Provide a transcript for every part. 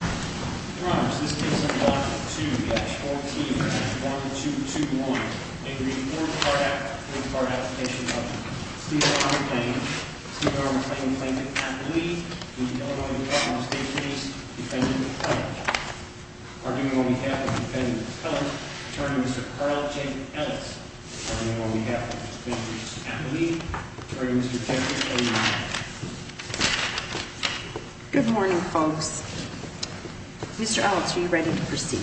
to 14-121, and to read the fourth FOID Card Application of Steve Armclang, Steve Armclang, plaintiff, Applee, in the Illinois Department of State's case, defendant, Cullen. On behalf of the defendant, Cullen, I turn to Mr. Carl J. Ellis. On behalf of the defendant, Applee, I turn to Mr. Jeffrey A. Miller. Good morning, folks. Mr. Ellis, are you ready to proceed?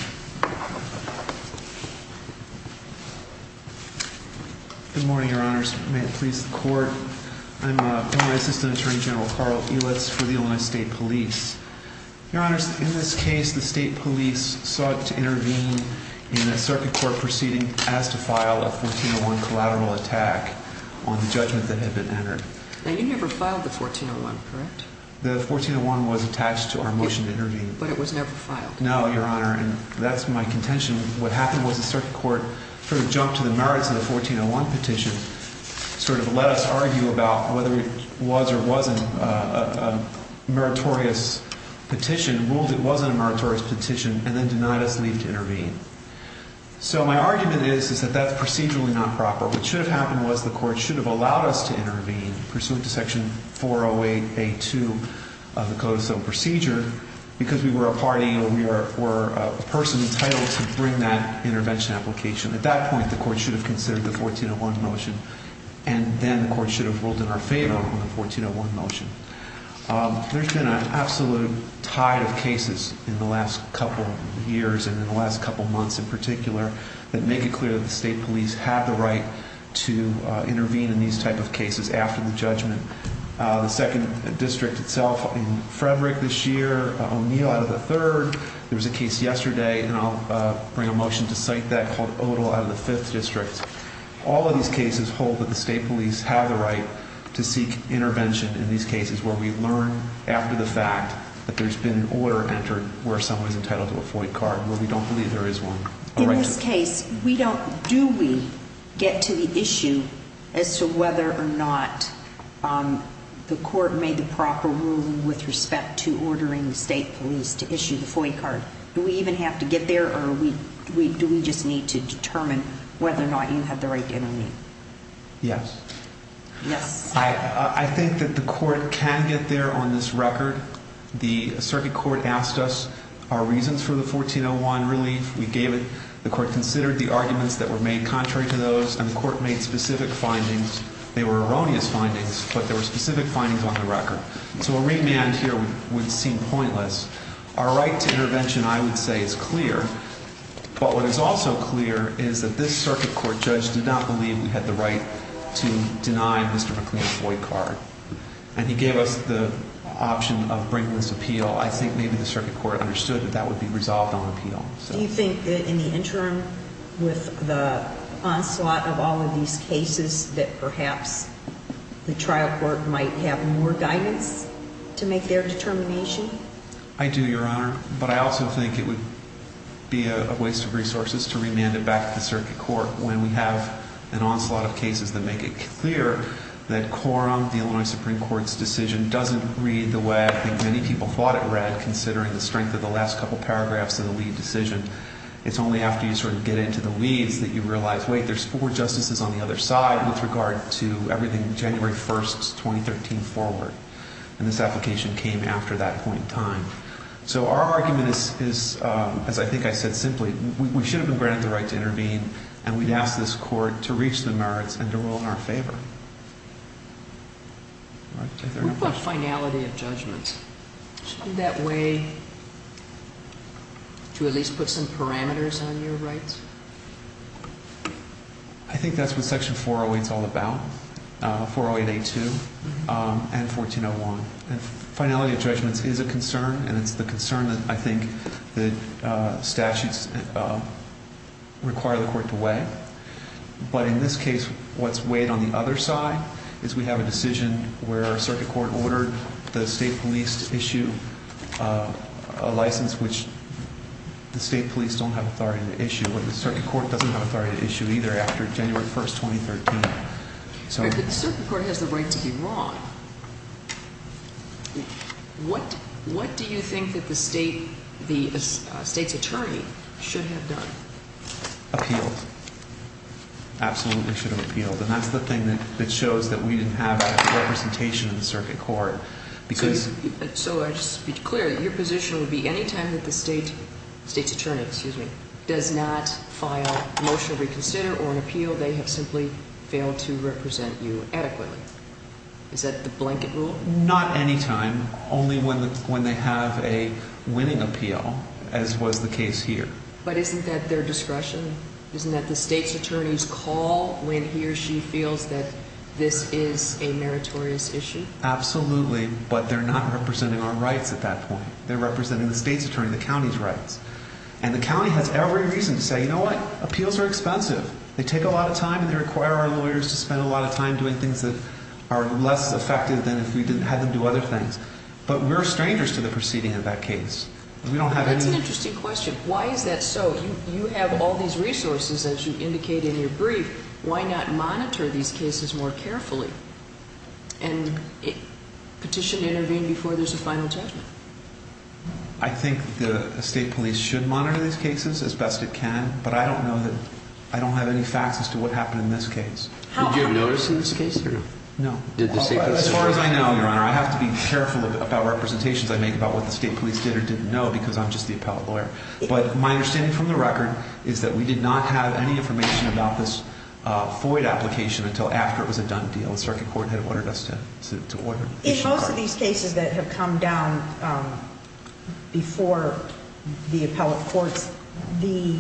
Good morning, Your Honors. May it please the Court, I'm a former assistant attorney general, Carl Ellis, for the Illinois State Police. Your Honors, in this case, the State Police sought to intervene in a circuit court proceeding as to file a 14-01 collateral attack on the judgment that had been entered. Now, you never filed the 14-01, correct? The 14-01 was attached to our motion to intervene. But it was never filed? No, Your Honor, and that's my contention. What happened was the circuit court sort of jumped to the merits of the 14-01 petition, sort of let us argue about whether it was or wasn't a meritorious petition, ruled it wasn't a meritorious petition, and then denied us leave to intervene. So my argument is that that's procedurally not proper. What should have happened was the court should have allowed us to intervene, pursuant to Section 408A-2 of the Code of Civil Procedure, because we were a party or we were a person entitled to bring that intervention application. At that point, the court should have considered the 14-01 motion, and then the court should have ruled in our favor on the 14-01 motion. There's been an absolute tide of cases in the last couple of years and in the last couple of months in particular that make it clear that the state police have the right to intervene in these type of cases after the judgment. The second district itself in Frederick this year, O'Neill out of the third, there was a case yesterday, and I'll bring a motion to cite that, called Odall out of the fifth district. All of these cases hold that the state police have the right to seek intervention in these cases where we learn after the fact that there's been an order entered where someone's entitled to a FOIA card, where we don't believe there is one. In this case, do we get to the issue as to whether or not the court made the proper ruling with respect to ordering the state police to issue the FOIA card? Do we even have to get there, or do we just need to determine whether or not you had the right to intervene? Yes. Yes. I think that the court can get there on this record. The circuit court asked us our reasons for the 14-01 relief. We gave it. The court considered the arguments that were made contrary to those, and the court made specific findings. They were erroneous findings, but there were specific findings on the record. So a remand here would seem pointless. Our right to intervention, I would say, is clear. But what is also clear is that this circuit court judge did not believe we had the right to deny Mr. McLean a FOIA card. And he gave us the option of bringing this appeal. I think maybe the circuit court understood that that would be resolved on appeal. Do you think that in the interim, with the onslaught of all of these cases, that perhaps the trial court might have more guidance to make their determination? I do, Your Honor. But I also think it would be a waste of resources to remand it back to the circuit court when we have an onslaught of cases that make it clear that Corum, the Illinois Supreme Court's decision, doesn't read the way I think many people thought it read, considering the strength of the last couple paragraphs of the lead decision. It's only after you sort of get into the leads that you realize, wait, there's four justices on the other side with regard to everything January 1, 2013 forward. And this application came after that point in time. So our argument is, as I think I said simply, we should have been granted the right to intervene and we'd ask this court to reach the merits and to rule in our favor. What about finality of judgments? Isn't that way to at least put some parameters on your rights? I think that's what Section 408 is all about, 408A2 and 1401. Finality of judgments is a concern, and it's the concern that I think the statutes require the court to weigh. But in this case, what's weighed on the other side is we have a decision where circuit court ordered the state police to issue a license, which the state police don't have authority to issue, or the circuit court doesn't have authority to issue either after January 1, 2013. But the circuit court has the right to be wrong. What do you think that the state's attorney should have done? Appealed. Absolutely should have appealed. And that's the thing that shows that we didn't have a representation in the circuit court. So just to be clear, your position would be any time that the state's attorney does not file a motion to reconsider or an appeal, they have simply failed to represent you adequately. Is that the blanket rule? Not any time. Only when they have a winning appeal, as was the case here. But isn't that their discretion? Isn't that the state's attorney's call when he or she feels that this is a meritorious issue? Absolutely, but they're not representing our rights at that point. They're representing the state's attorney, the county's rights. And the county has every reason to say, you know what? Appeals are expensive. They take a lot of time and they require our lawyers to spend a lot of time doing things that are less effective than if we had them do other things. But we're strangers to the proceeding in that case. That's an interesting question. Why is that so? You have all these resources, as you indicate in your brief. Why not monitor these cases more carefully? And petition to intervene before there's a final judgment. I think the state police should monitor these cases as best it can, but I don't have any facts as to what happened in this case. Did you notice in this case or no? No. As far as I know, Your Honor, I have to be careful about representations I make about what the state police did or didn't know because I'm just the appellate lawyer. But my understanding from the record is that we did not have any information about this FOIA application until after it was a done deal. The circuit court had ordered us to issue the card. In most of these cases that have come down before the appellate courts, the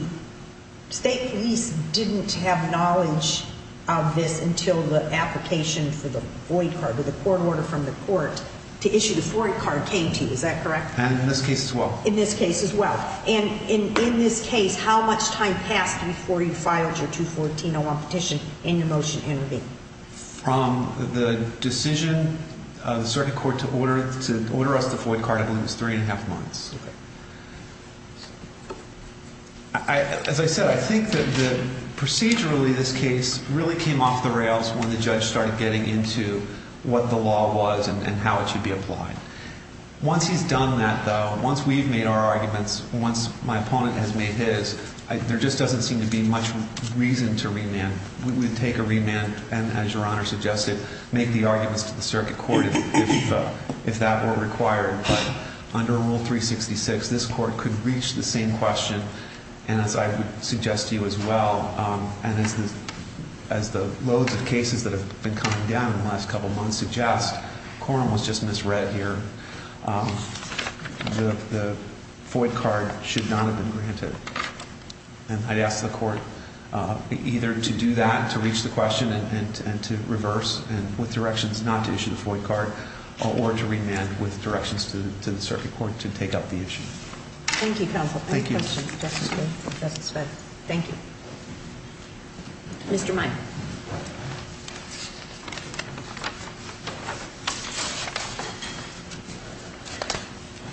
state police didn't have knowledge of this until the application for the FOIA card, or the court order from the court to issue the FOIA card came to you. Is that correct? And in this case as well. In this case as well. And in this case, how much time passed before you filed your 214-01 petition and your motion to intervene? From the decision of the circuit court to order us the FOIA card, I believe it was three and a half months. Okay. As I said, I think that procedurally this case really came off the rails when the judge started getting into what the law was and how it should be applied. Once he's done that, though, once we've made our arguments, once my opponent has made his, there just doesn't seem to be much reason to remand. We would take a remand and, as Your Honor suggested, make the arguments to the circuit court if that were required. But under Rule 366, this court could reach the same question. And as I would suggest to you as well, and as the loads of cases that have been coming down in the last couple months suggest, the quorum was just misread here, the FOIA card should not have been granted. And I'd ask the court either to do that, to reach the question, and to reverse with directions not to issue the FOIA card, or to remand with directions to the circuit court to take up the issue. Thank you, counsel. Thank you. Thank you. Mr. Meyer.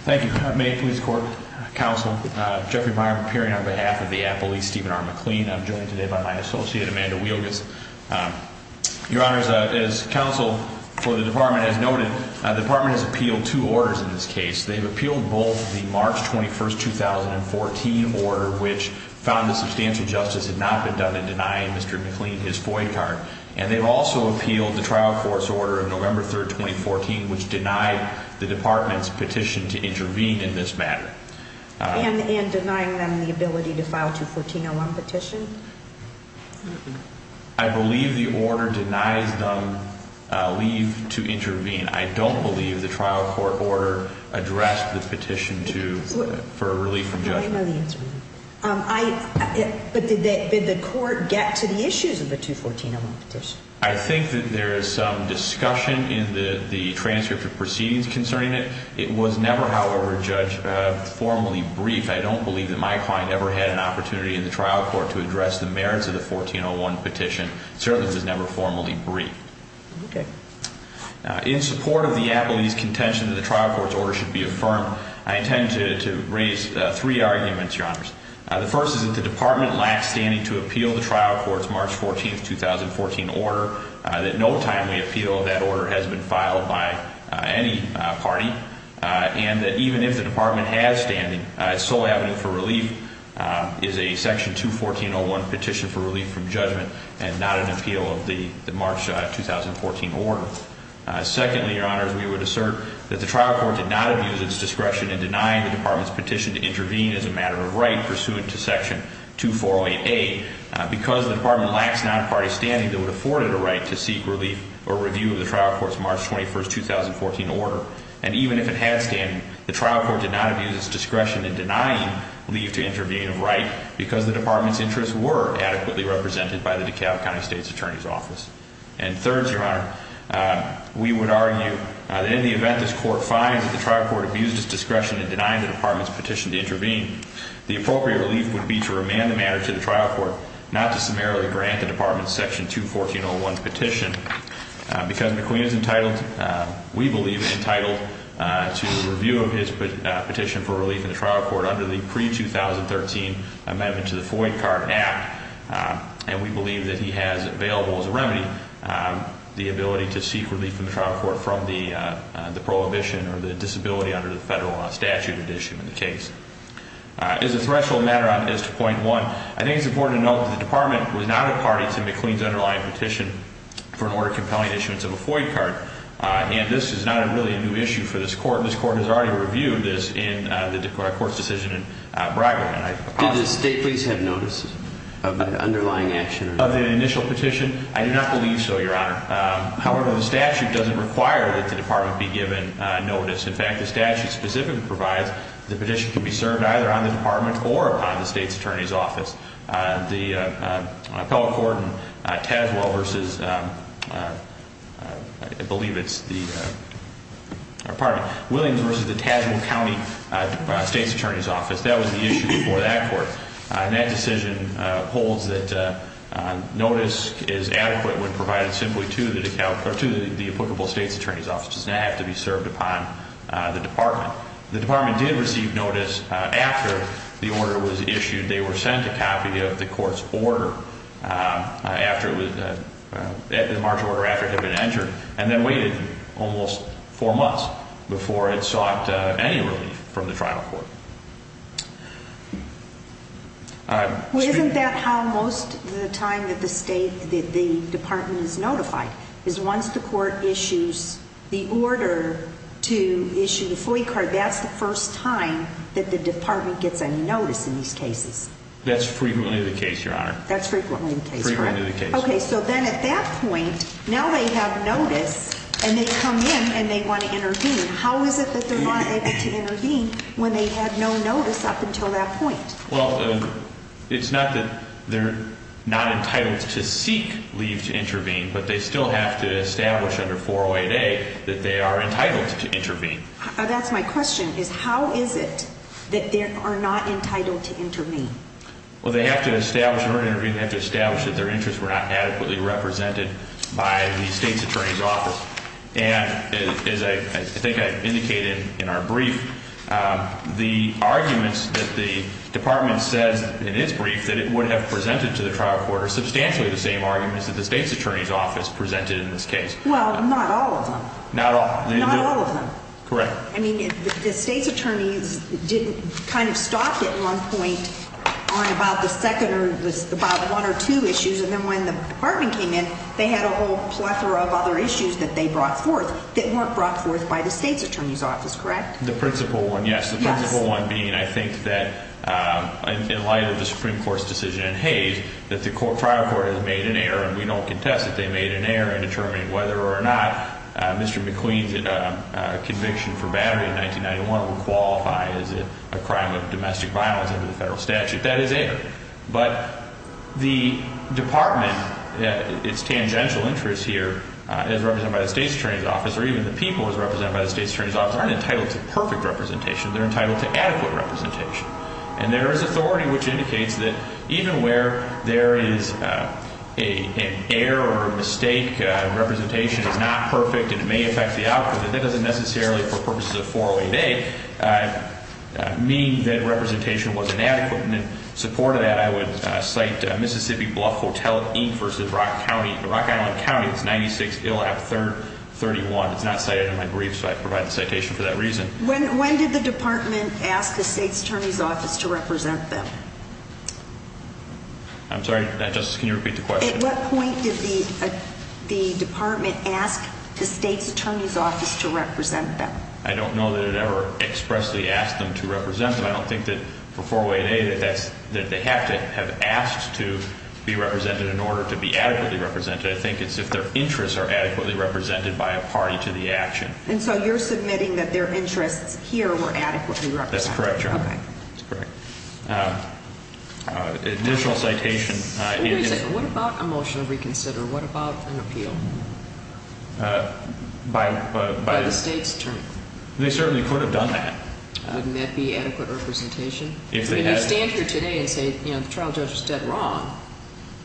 Thank you, Ma'am. Police, court, counsel, Jeffrey Meyer, appearing on behalf of the appellee, Stephen R. McLean. I'm joined today by my associate, Amanda Wielgus. Your Honors, as counsel for the department has noted, the department has appealed two orders in this case. They've appealed both the March 21st, 2014 order, which found that substantial justice had not been done in denying Mr. McLean his FOIA card. And they've also appealed the trial court's order of November 3rd, 2014, which denied the department's petition to intervene in this matter. And denying them the ability to file 214-01 petition? I believe the order denies them leave to intervene. I don't believe the trial court order addressed the petition for relief from judgment. I know the answer to that. But did the court get to the issues of the 214-01 petition? I think that there is some discussion in the transcript of proceedings concerning it. It was never, however, formally briefed. I don't believe that my client ever had an opportunity in the trial court to address the merits of the 14-01 petition. It certainly was never formally briefed. Okay. In support of the appellee's contention that the trial court's order should be affirmed, I intend to raise three arguments, Your Honors. The first is that the department lacks standing to appeal the trial court's March 14th, 2014 order. That no timely appeal of that order has been filed by any party. And that even if the department has standing, its sole avenue for relief is a Section 214-01 petition for relief from judgment and not an appeal of the March 2014 order. Secondly, Your Honors, we would assert that the trial court did not abuse its discretion in denying the department's petition to intervene as a matter of right pursuant to Section 2408A. Because the department lacks non-party standing, it would afford it a right to seek relief or review of the trial court's March 21st, 2014 order. And even if it had standing, the trial court did not abuse its discretion in denying leave to intervene of right because the department's interests were adequately represented by the DeKalb County State's Attorney's Office. And third, Your Honor, we would argue that in the event this court finds that the trial court abused its discretion in denying the department's petition to intervene, the appropriate relief would be to remand the matter to the trial court, not to summarily grant the department's Section 214-01 petition. Because McLean is entitled, we believe, entitled to review of his petition for relief in the trial court under the pre-2013 amendment to the Floyd Card Act. And we believe that he has available as a remedy the ability to seek relief from the trial court from the prohibition or the disability under the federal statute that issued the case. As a threshold matter as to point one, I think it's important to note that the department was not a party to McLean's underlying petition for an order compelling issuance of a Floyd card. And this is not really a new issue for this court. This court has already reviewed this in the court's decision in Braggart. Did the state please have notice of that underlying action? Of the initial petition? I do not believe so, Your Honor. However, the statute doesn't require that the department be given notice. In fact, the statute specifically provides the petition can be served either on the department or upon the state's attorney's office. The appellate court in Tazewell versus, I believe it's the, pardon me, Williams versus the Tazewell County state's attorney's office, that was the issue before that court. And that decision holds that notice is adequate when provided simply to the applicable state's attorney's office. It does not have to be served upon the department. The department did receive notice after the order was issued. They were sent a copy of the court's order after it was, the March order after it had been entered, and then waited almost four months before it sought any relief from the trial court. Well, isn't that how most of the time that the department is notified, is once the court issues the order to issue the FOIA card, that's the first time that the department gets any notice in these cases? That's frequently the case, Your Honor. That's frequently the case, correct? Frequently the case. Okay, so then at that point, now they have notice and they come in and they want to intervene. How is it that they're not able to intervene when they had no notice up until that point? Well, it's not that they're not entitled to seek leave to intervene, but they still have to establish under 408A that they are entitled to intervene. That's my question, is how is it that they are not entitled to intervene? Well, they have to establish, in order to intervene, they have to establish that their interests were not adequately represented by the state's attorney's office. And as I think I indicated in our brief, the arguments that the department says in its brief that it would have presented to the trial court are substantially the same arguments that the state's attorney's office presented in this case. Well, not all of them. Not all. Not all of them. Correct. I mean, the state's attorneys didn't kind of stop at one point on about the second or about one or two issues. And then when the department came in, they had a whole plethora of other issues that they brought forth that weren't brought forth by the state's attorney's office, correct? The principal one, yes. Yes. The principal one being I think that in light of the Supreme Court's decision in Hays that the trial court has made an error, and we don't contest that they made an error in determining whether or not Mr. McQueen's conviction for battery in 1991 would qualify as a crime of domestic violence under the federal statute. That is error. But the department, its tangential interest here, as represented by the state's attorney's office, or even the people as represented by the state's attorney's office, aren't entitled to perfect representation. They're entitled to adequate representation. And there is authority which indicates that even where there is an error or a mistake, representation is not perfect and it may affect the outcome, that doesn't necessarily for purposes of 408A mean that representation was inadequate. And in support of that, I would cite Mississippi Bluff Hotel Inc. v. Rock Island County. It's 96-331. It's not cited in my brief, so I provide the citation for that reason. When did the department ask the state's attorney's office to represent them? I'm sorry, Justice, can you repeat the question? At what point did the department ask the state's attorney's office to represent them? I don't know that it ever expressly asked them to represent them. I don't think that for 408A that they have to have asked to be represented in order to be adequately represented. I think it's if their interests are adequately represented by a party to the action. And so you're submitting that their interests here were adequately represented. That's correct, Your Honor. Okay. That's correct. Additional citation is... Wait a second, what about a motion to reconsider? What about an appeal? By the state's attorney. They certainly could have done that. Wouldn't that be adequate representation? If they had... I mean, you stand here today and say, you know, the trial judge was dead wrong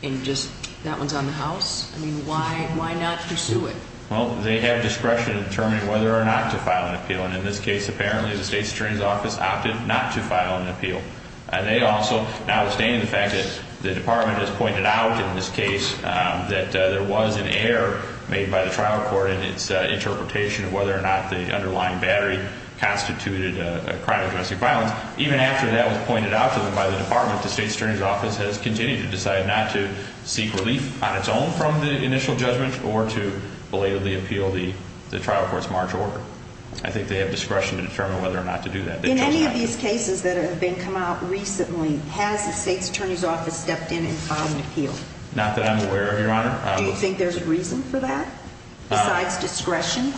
and just that one's on the house. I mean, why not pursue it? Well, they have discretion in determining whether or not to file an appeal. And in this case, apparently the state's attorney's office opted not to file an appeal. And they also, notwithstanding the fact that the department has pointed out in this case that there was an error made by the trial court in its interpretation of whether or not the underlying battery constituted a crime of domestic violence, even after that was pointed out to them by the department, has continued to decide not to seek relief on its own from the initial judgment or to belatedly appeal the trial court's March order. I think they have discretion to determine whether or not to do that. In any of these cases that have been come out recently, has the state's attorney's office stepped in and filed an appeal? Not that I'm aware of, Your Honor. Do you think there's a reason for that besides discretion?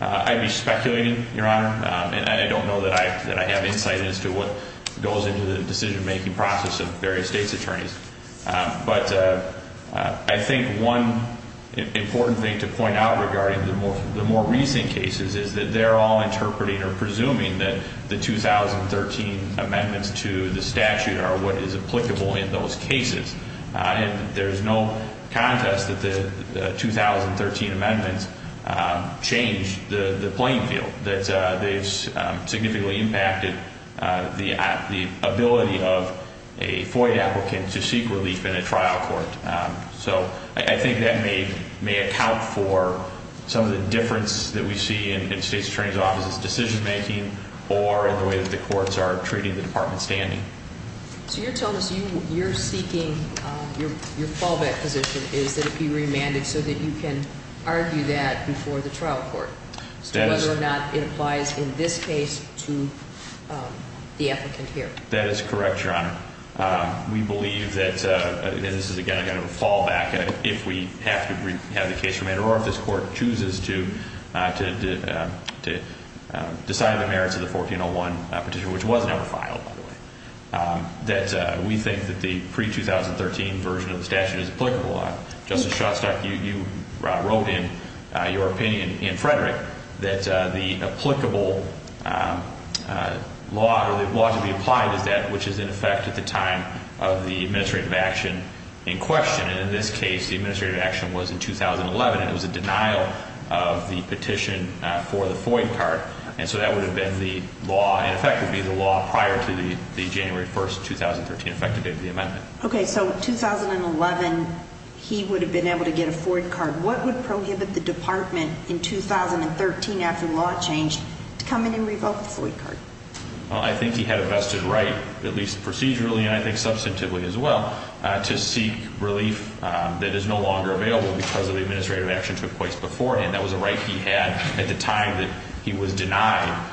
I'd be speculating, Your Honor. And I don't know that I have insight as to what goes into the decision-making process of various state's attorneys. But I think one important thing to point out regarding the more recent cases is that they're all interpreting or presuming that the 2013 amendments to the statute are what is applicable in those cases. There's no contest that the 2013 amendments changed the playing field, that they've significantly impacted the ability of a FOIA applicant to seek relief in a trial court. So I think that may account for some of the difference that we see in state's attorney's office's decision-making or in the way that the courts are treating the department's standing. So you're telling us you're seeking your fallback position is that it be remanded so that you can argue that before the trial court, whether or not it applies in this case to the applicant here. That is correct, Your Honor. We believe that this is, again, a kind of a fallback if we have to have the case remanded or if this court chooses to decide the merits of the 1401 petition, which was never filed, by the way, that we think that the pre-2013 version of the statute is applicable. Justice Shostak, you wrote in your opinion in Frederick that the applicable law or the law to be applied is that which is in effect at the time of the administrative action in question. And in this case, the administrative action was in 2011, and it was a denial of the petition for the FOIA card. And so that would have been the law. In effect, it would be the law prior to the January 1, 2013 effective date of the amendment. Okay. So in 2011, he would have been able to get a FOIA card. What would prohibit the department in 2013, after the law changed, to come in and revoke the FOIA card? Well, I think he had a vested right, at least procedurally and I think substantively as well, to seek relief that is no longer available because of the administrative action took place beforehand. That was a right he had at the time that he was denied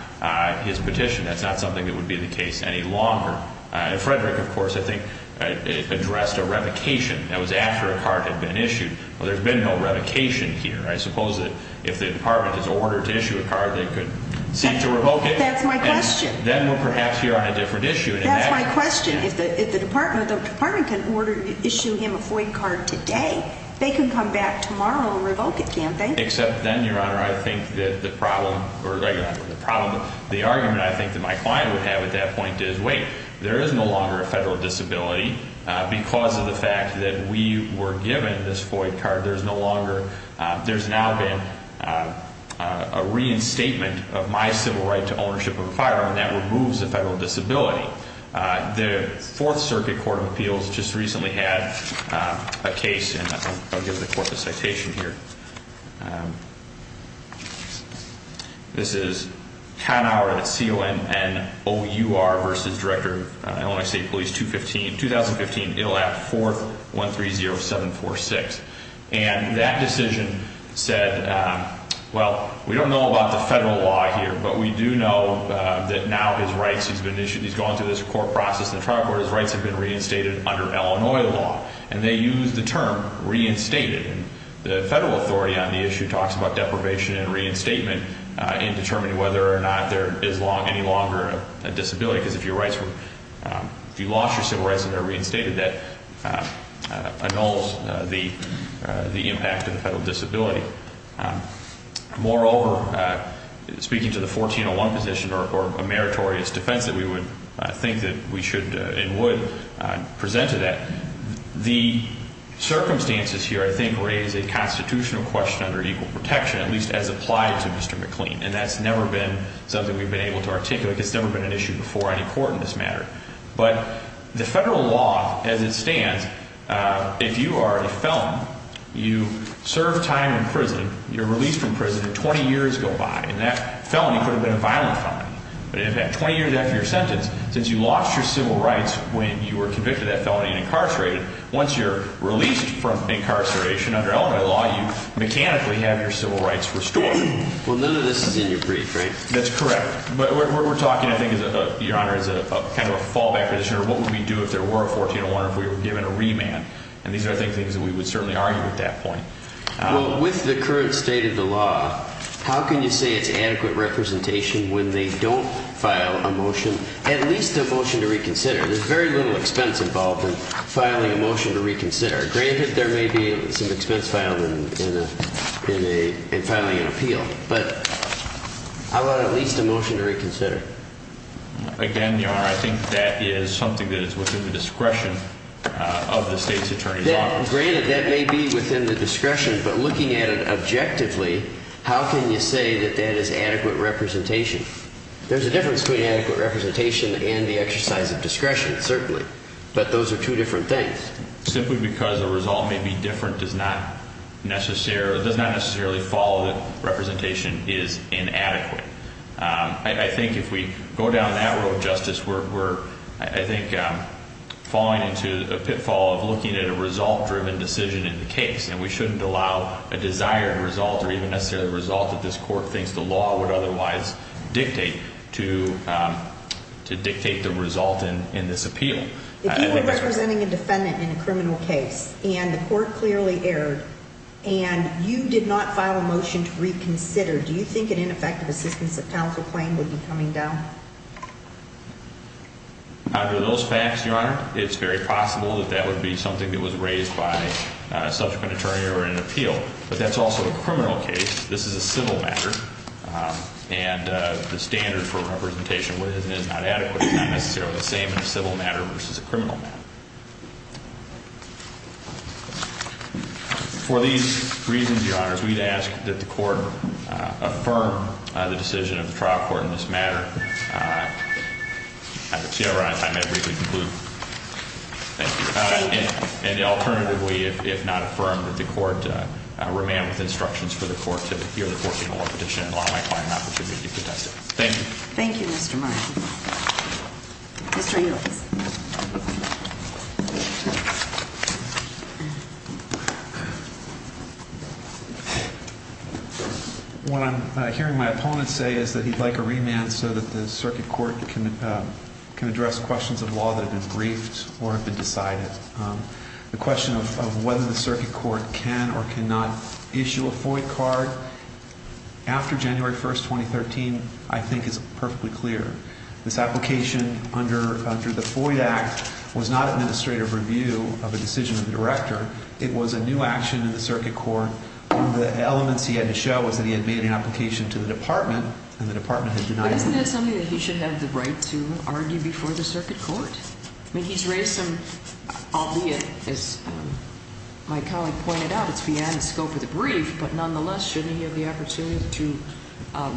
his petition. That's not something that would be the case any longer. And Frederick, of course, I think addressed a revocation that was after a card had been issued. Well, there's been no revocation here. I suppose that if the department is ordered to issue a card, they could seek to revoke it. That's my question. Then we're perhaps here on a different issue. That's my question. If the department can issue him a FOIA card today, they can come back tomorrow and revoke it, can't they? Except then, Your Honor, I think that the argument I think that my client would have at that point is, wait, there is no longer a federal disability because of the fact that we were given this FOIA card. There's now been a reinstatement of my civil right to ownership of a firearm that removes a federal disability. The Fourth Circuit Court of Appeals just recently had a case, and I'll give the court the citation here. This is Kahnauer, C-O-N-N-O-U-R, v. Director of Illinois State Police, 2015. It'll have 4-130-746. And that decision said, well, we don't know about the federal law here, but we do know that now his rights have been issued. He's gone through this court process in the trial court. His rights have been reinstated under Illinois law. And they used the term reinstated. And the federal authority on the issue talks about deprivation and reinstatement in determining whether or not there is any longer a disability, because if your rights were, if you lost your civil rights and they're reinstated, that annuls the impact of the federal disability. Moreover, speaking to the 1401 position, or a meritorious defense that we would think that we should and would present to that, the circumstances here, I think, raise a constitutional question under equal protection, at least as applied to Mr. McLean. And that's never been something we've been able to articulate. It's never been an issue before any court in this matter. But the federal law, as it stands, if you are a felon, you serve time in prison, you're released from prison, and 20 years go by. And that felony could have been a violent felony. But in fact, 20 years after your sentence, since you lost your civil rights when you were convicted of that felony and incarcerated, once you're released from incarceration under elementary law, you mechanically have your civil rights restored. Well, none of this is in your brief, right? That's correct. But what we're talking, I think, Your Honor, is kind of a fallback position or what would we do if there were a 1401 or if we were given a remand. And these are, I think, things that we would certainly argue at that point. Well, with the current state of the law, how can you say it's adequate representation when they don't file a motion, at least a motion to reconsider? There's very little expense involved in filing a motion to reconsider. Granted, there may be some expense found in filing an appeal, but I want at least a motion to reconsider. Again, Your Honor, I think that is something that is within the discretion of the state's attorney's office. Granted, that may be within the discretion, but looking at it objectively, how can you say that that is adequate representation? There's a difference between adequate representation and the exercise of discretion, certainly, but those are two different things. Simply because a result may be different does not necessarily follow that representation is inadequate. I think if we go down that road, Justice, we're, I think, falling into a pitfall of looking at a result-driven decision in the case, and we shouldn't allow a desired result or even necessarily a result that this court thinks the law would otherwise dictate to dictate the result in this appeal. If you were representing a defendant in a criminal case, and the court clearly erred, and you did not file a motion to reconsider, do you think an ineffective assistance of counsel claim would be coming down? Under those facts, Your Honor, it's very possible that that would be something that was raised by a subsequent attorney or an appeal, but that's also a criminal case. This is a civil matter, and the standard for representation, what is and is not adequate, is not necessarily the same in a civil matter versus a criminal matter. For these reasons, Your Honors, we'd ask that the court affirm the decision of the trial court in this matter. I don't see how we're on time. I'd briefly conclude. Thank you. And alternatively, if not affirmed, that the court remain with instructions for the court to hear the 14-1 petition and allow my client an opportunity to contest it. Thank you. Thank you, Mr. Martin. Mr. Ewells. What I'm hearing my opponents say is that he'd like a remand so that the circuit court can address questions of law that have been briefed or have been decided. The question of whether the circuit court can or cannot issue a FOIA card after January 1, 2013, I think is perfectly clear. This application under the FOIA Act was not administrative review of a decision of the director. It was a new action in the circuit court. One of the elements he had to show was that he had made an application to the department, and the department had denied it. But isn't that something that he should have the right to argue before the circuit court? I mean, he's raised some, albeit, as my colleague pointed out, it's beyond the scope of the brief, but nonetheless, shouldn't he have the opportunity to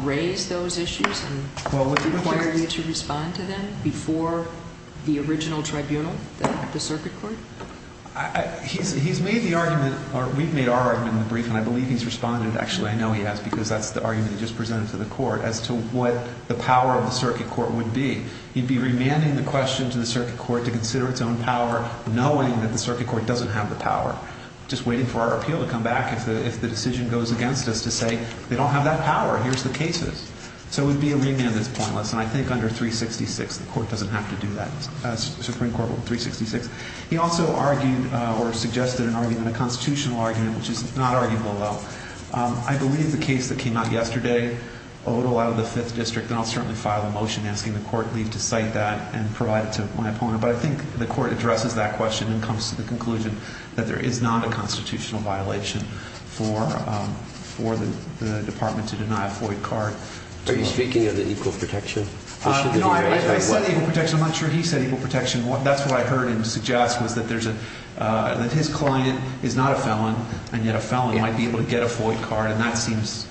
raise those issues and require you to respond to them before the original tribunal, the circuit court? He's made the argument, or we've made our argument in the brief, and I believe he's responded. Actually, I know he has because that's the argument he just presented to the court as to what the power of the circuit court would be. He'd be remanding the question to the circuit court to consider its own power, knowing that the circuit court doesn't have the power, just waiting for our appeal to come back if the decision goes against us to say they don't have that power. Here's the cases. So it would be a remand that's pointless, and I think under 366, the court doesn't have to do that, Supreme Court Rule 366. He also argued or suggested an argument, a constitutional argument, which is not arguable, though. I believe the case that came out yesterday, a little out of the Fifth District, then I'll certainly file a motion asking the court leave to cite that and provide it to my opponent. But I think the court addresses that question and comes to the conclusion that there is not a constitutional violation for the department to deny a FOIA card. Are you speaking of the equal protection? I said equal protection. I'm not sure he said equal protection. That's what I heard him suggest was that his client is not a felon, and yet a felon might be able to get a FOIA card, and that seems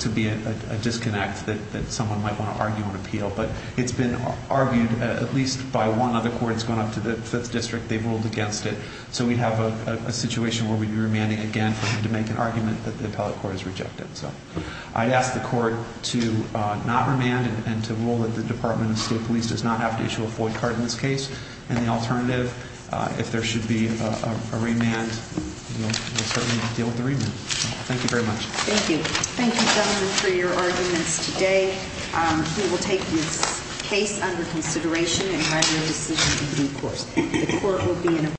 to be a disconnect that someone might want to argue and appeal. But it's been argued at least by one of the courts going up to the Fifth District. They've ruled against it. So we have a situation where we'd be remanding again to make an argument that the appellate court has rejected. I'd ask the court to not remand and to rule that the Department of State Police does not have to issue a FOIA card in this case. And the alternative, if there should be a remand, we'll certainly deal with the remand. Thank you very much. Thank you. Thank you, gentlemen, for your arguments today. We will take this case under consideration and have your decision in due course.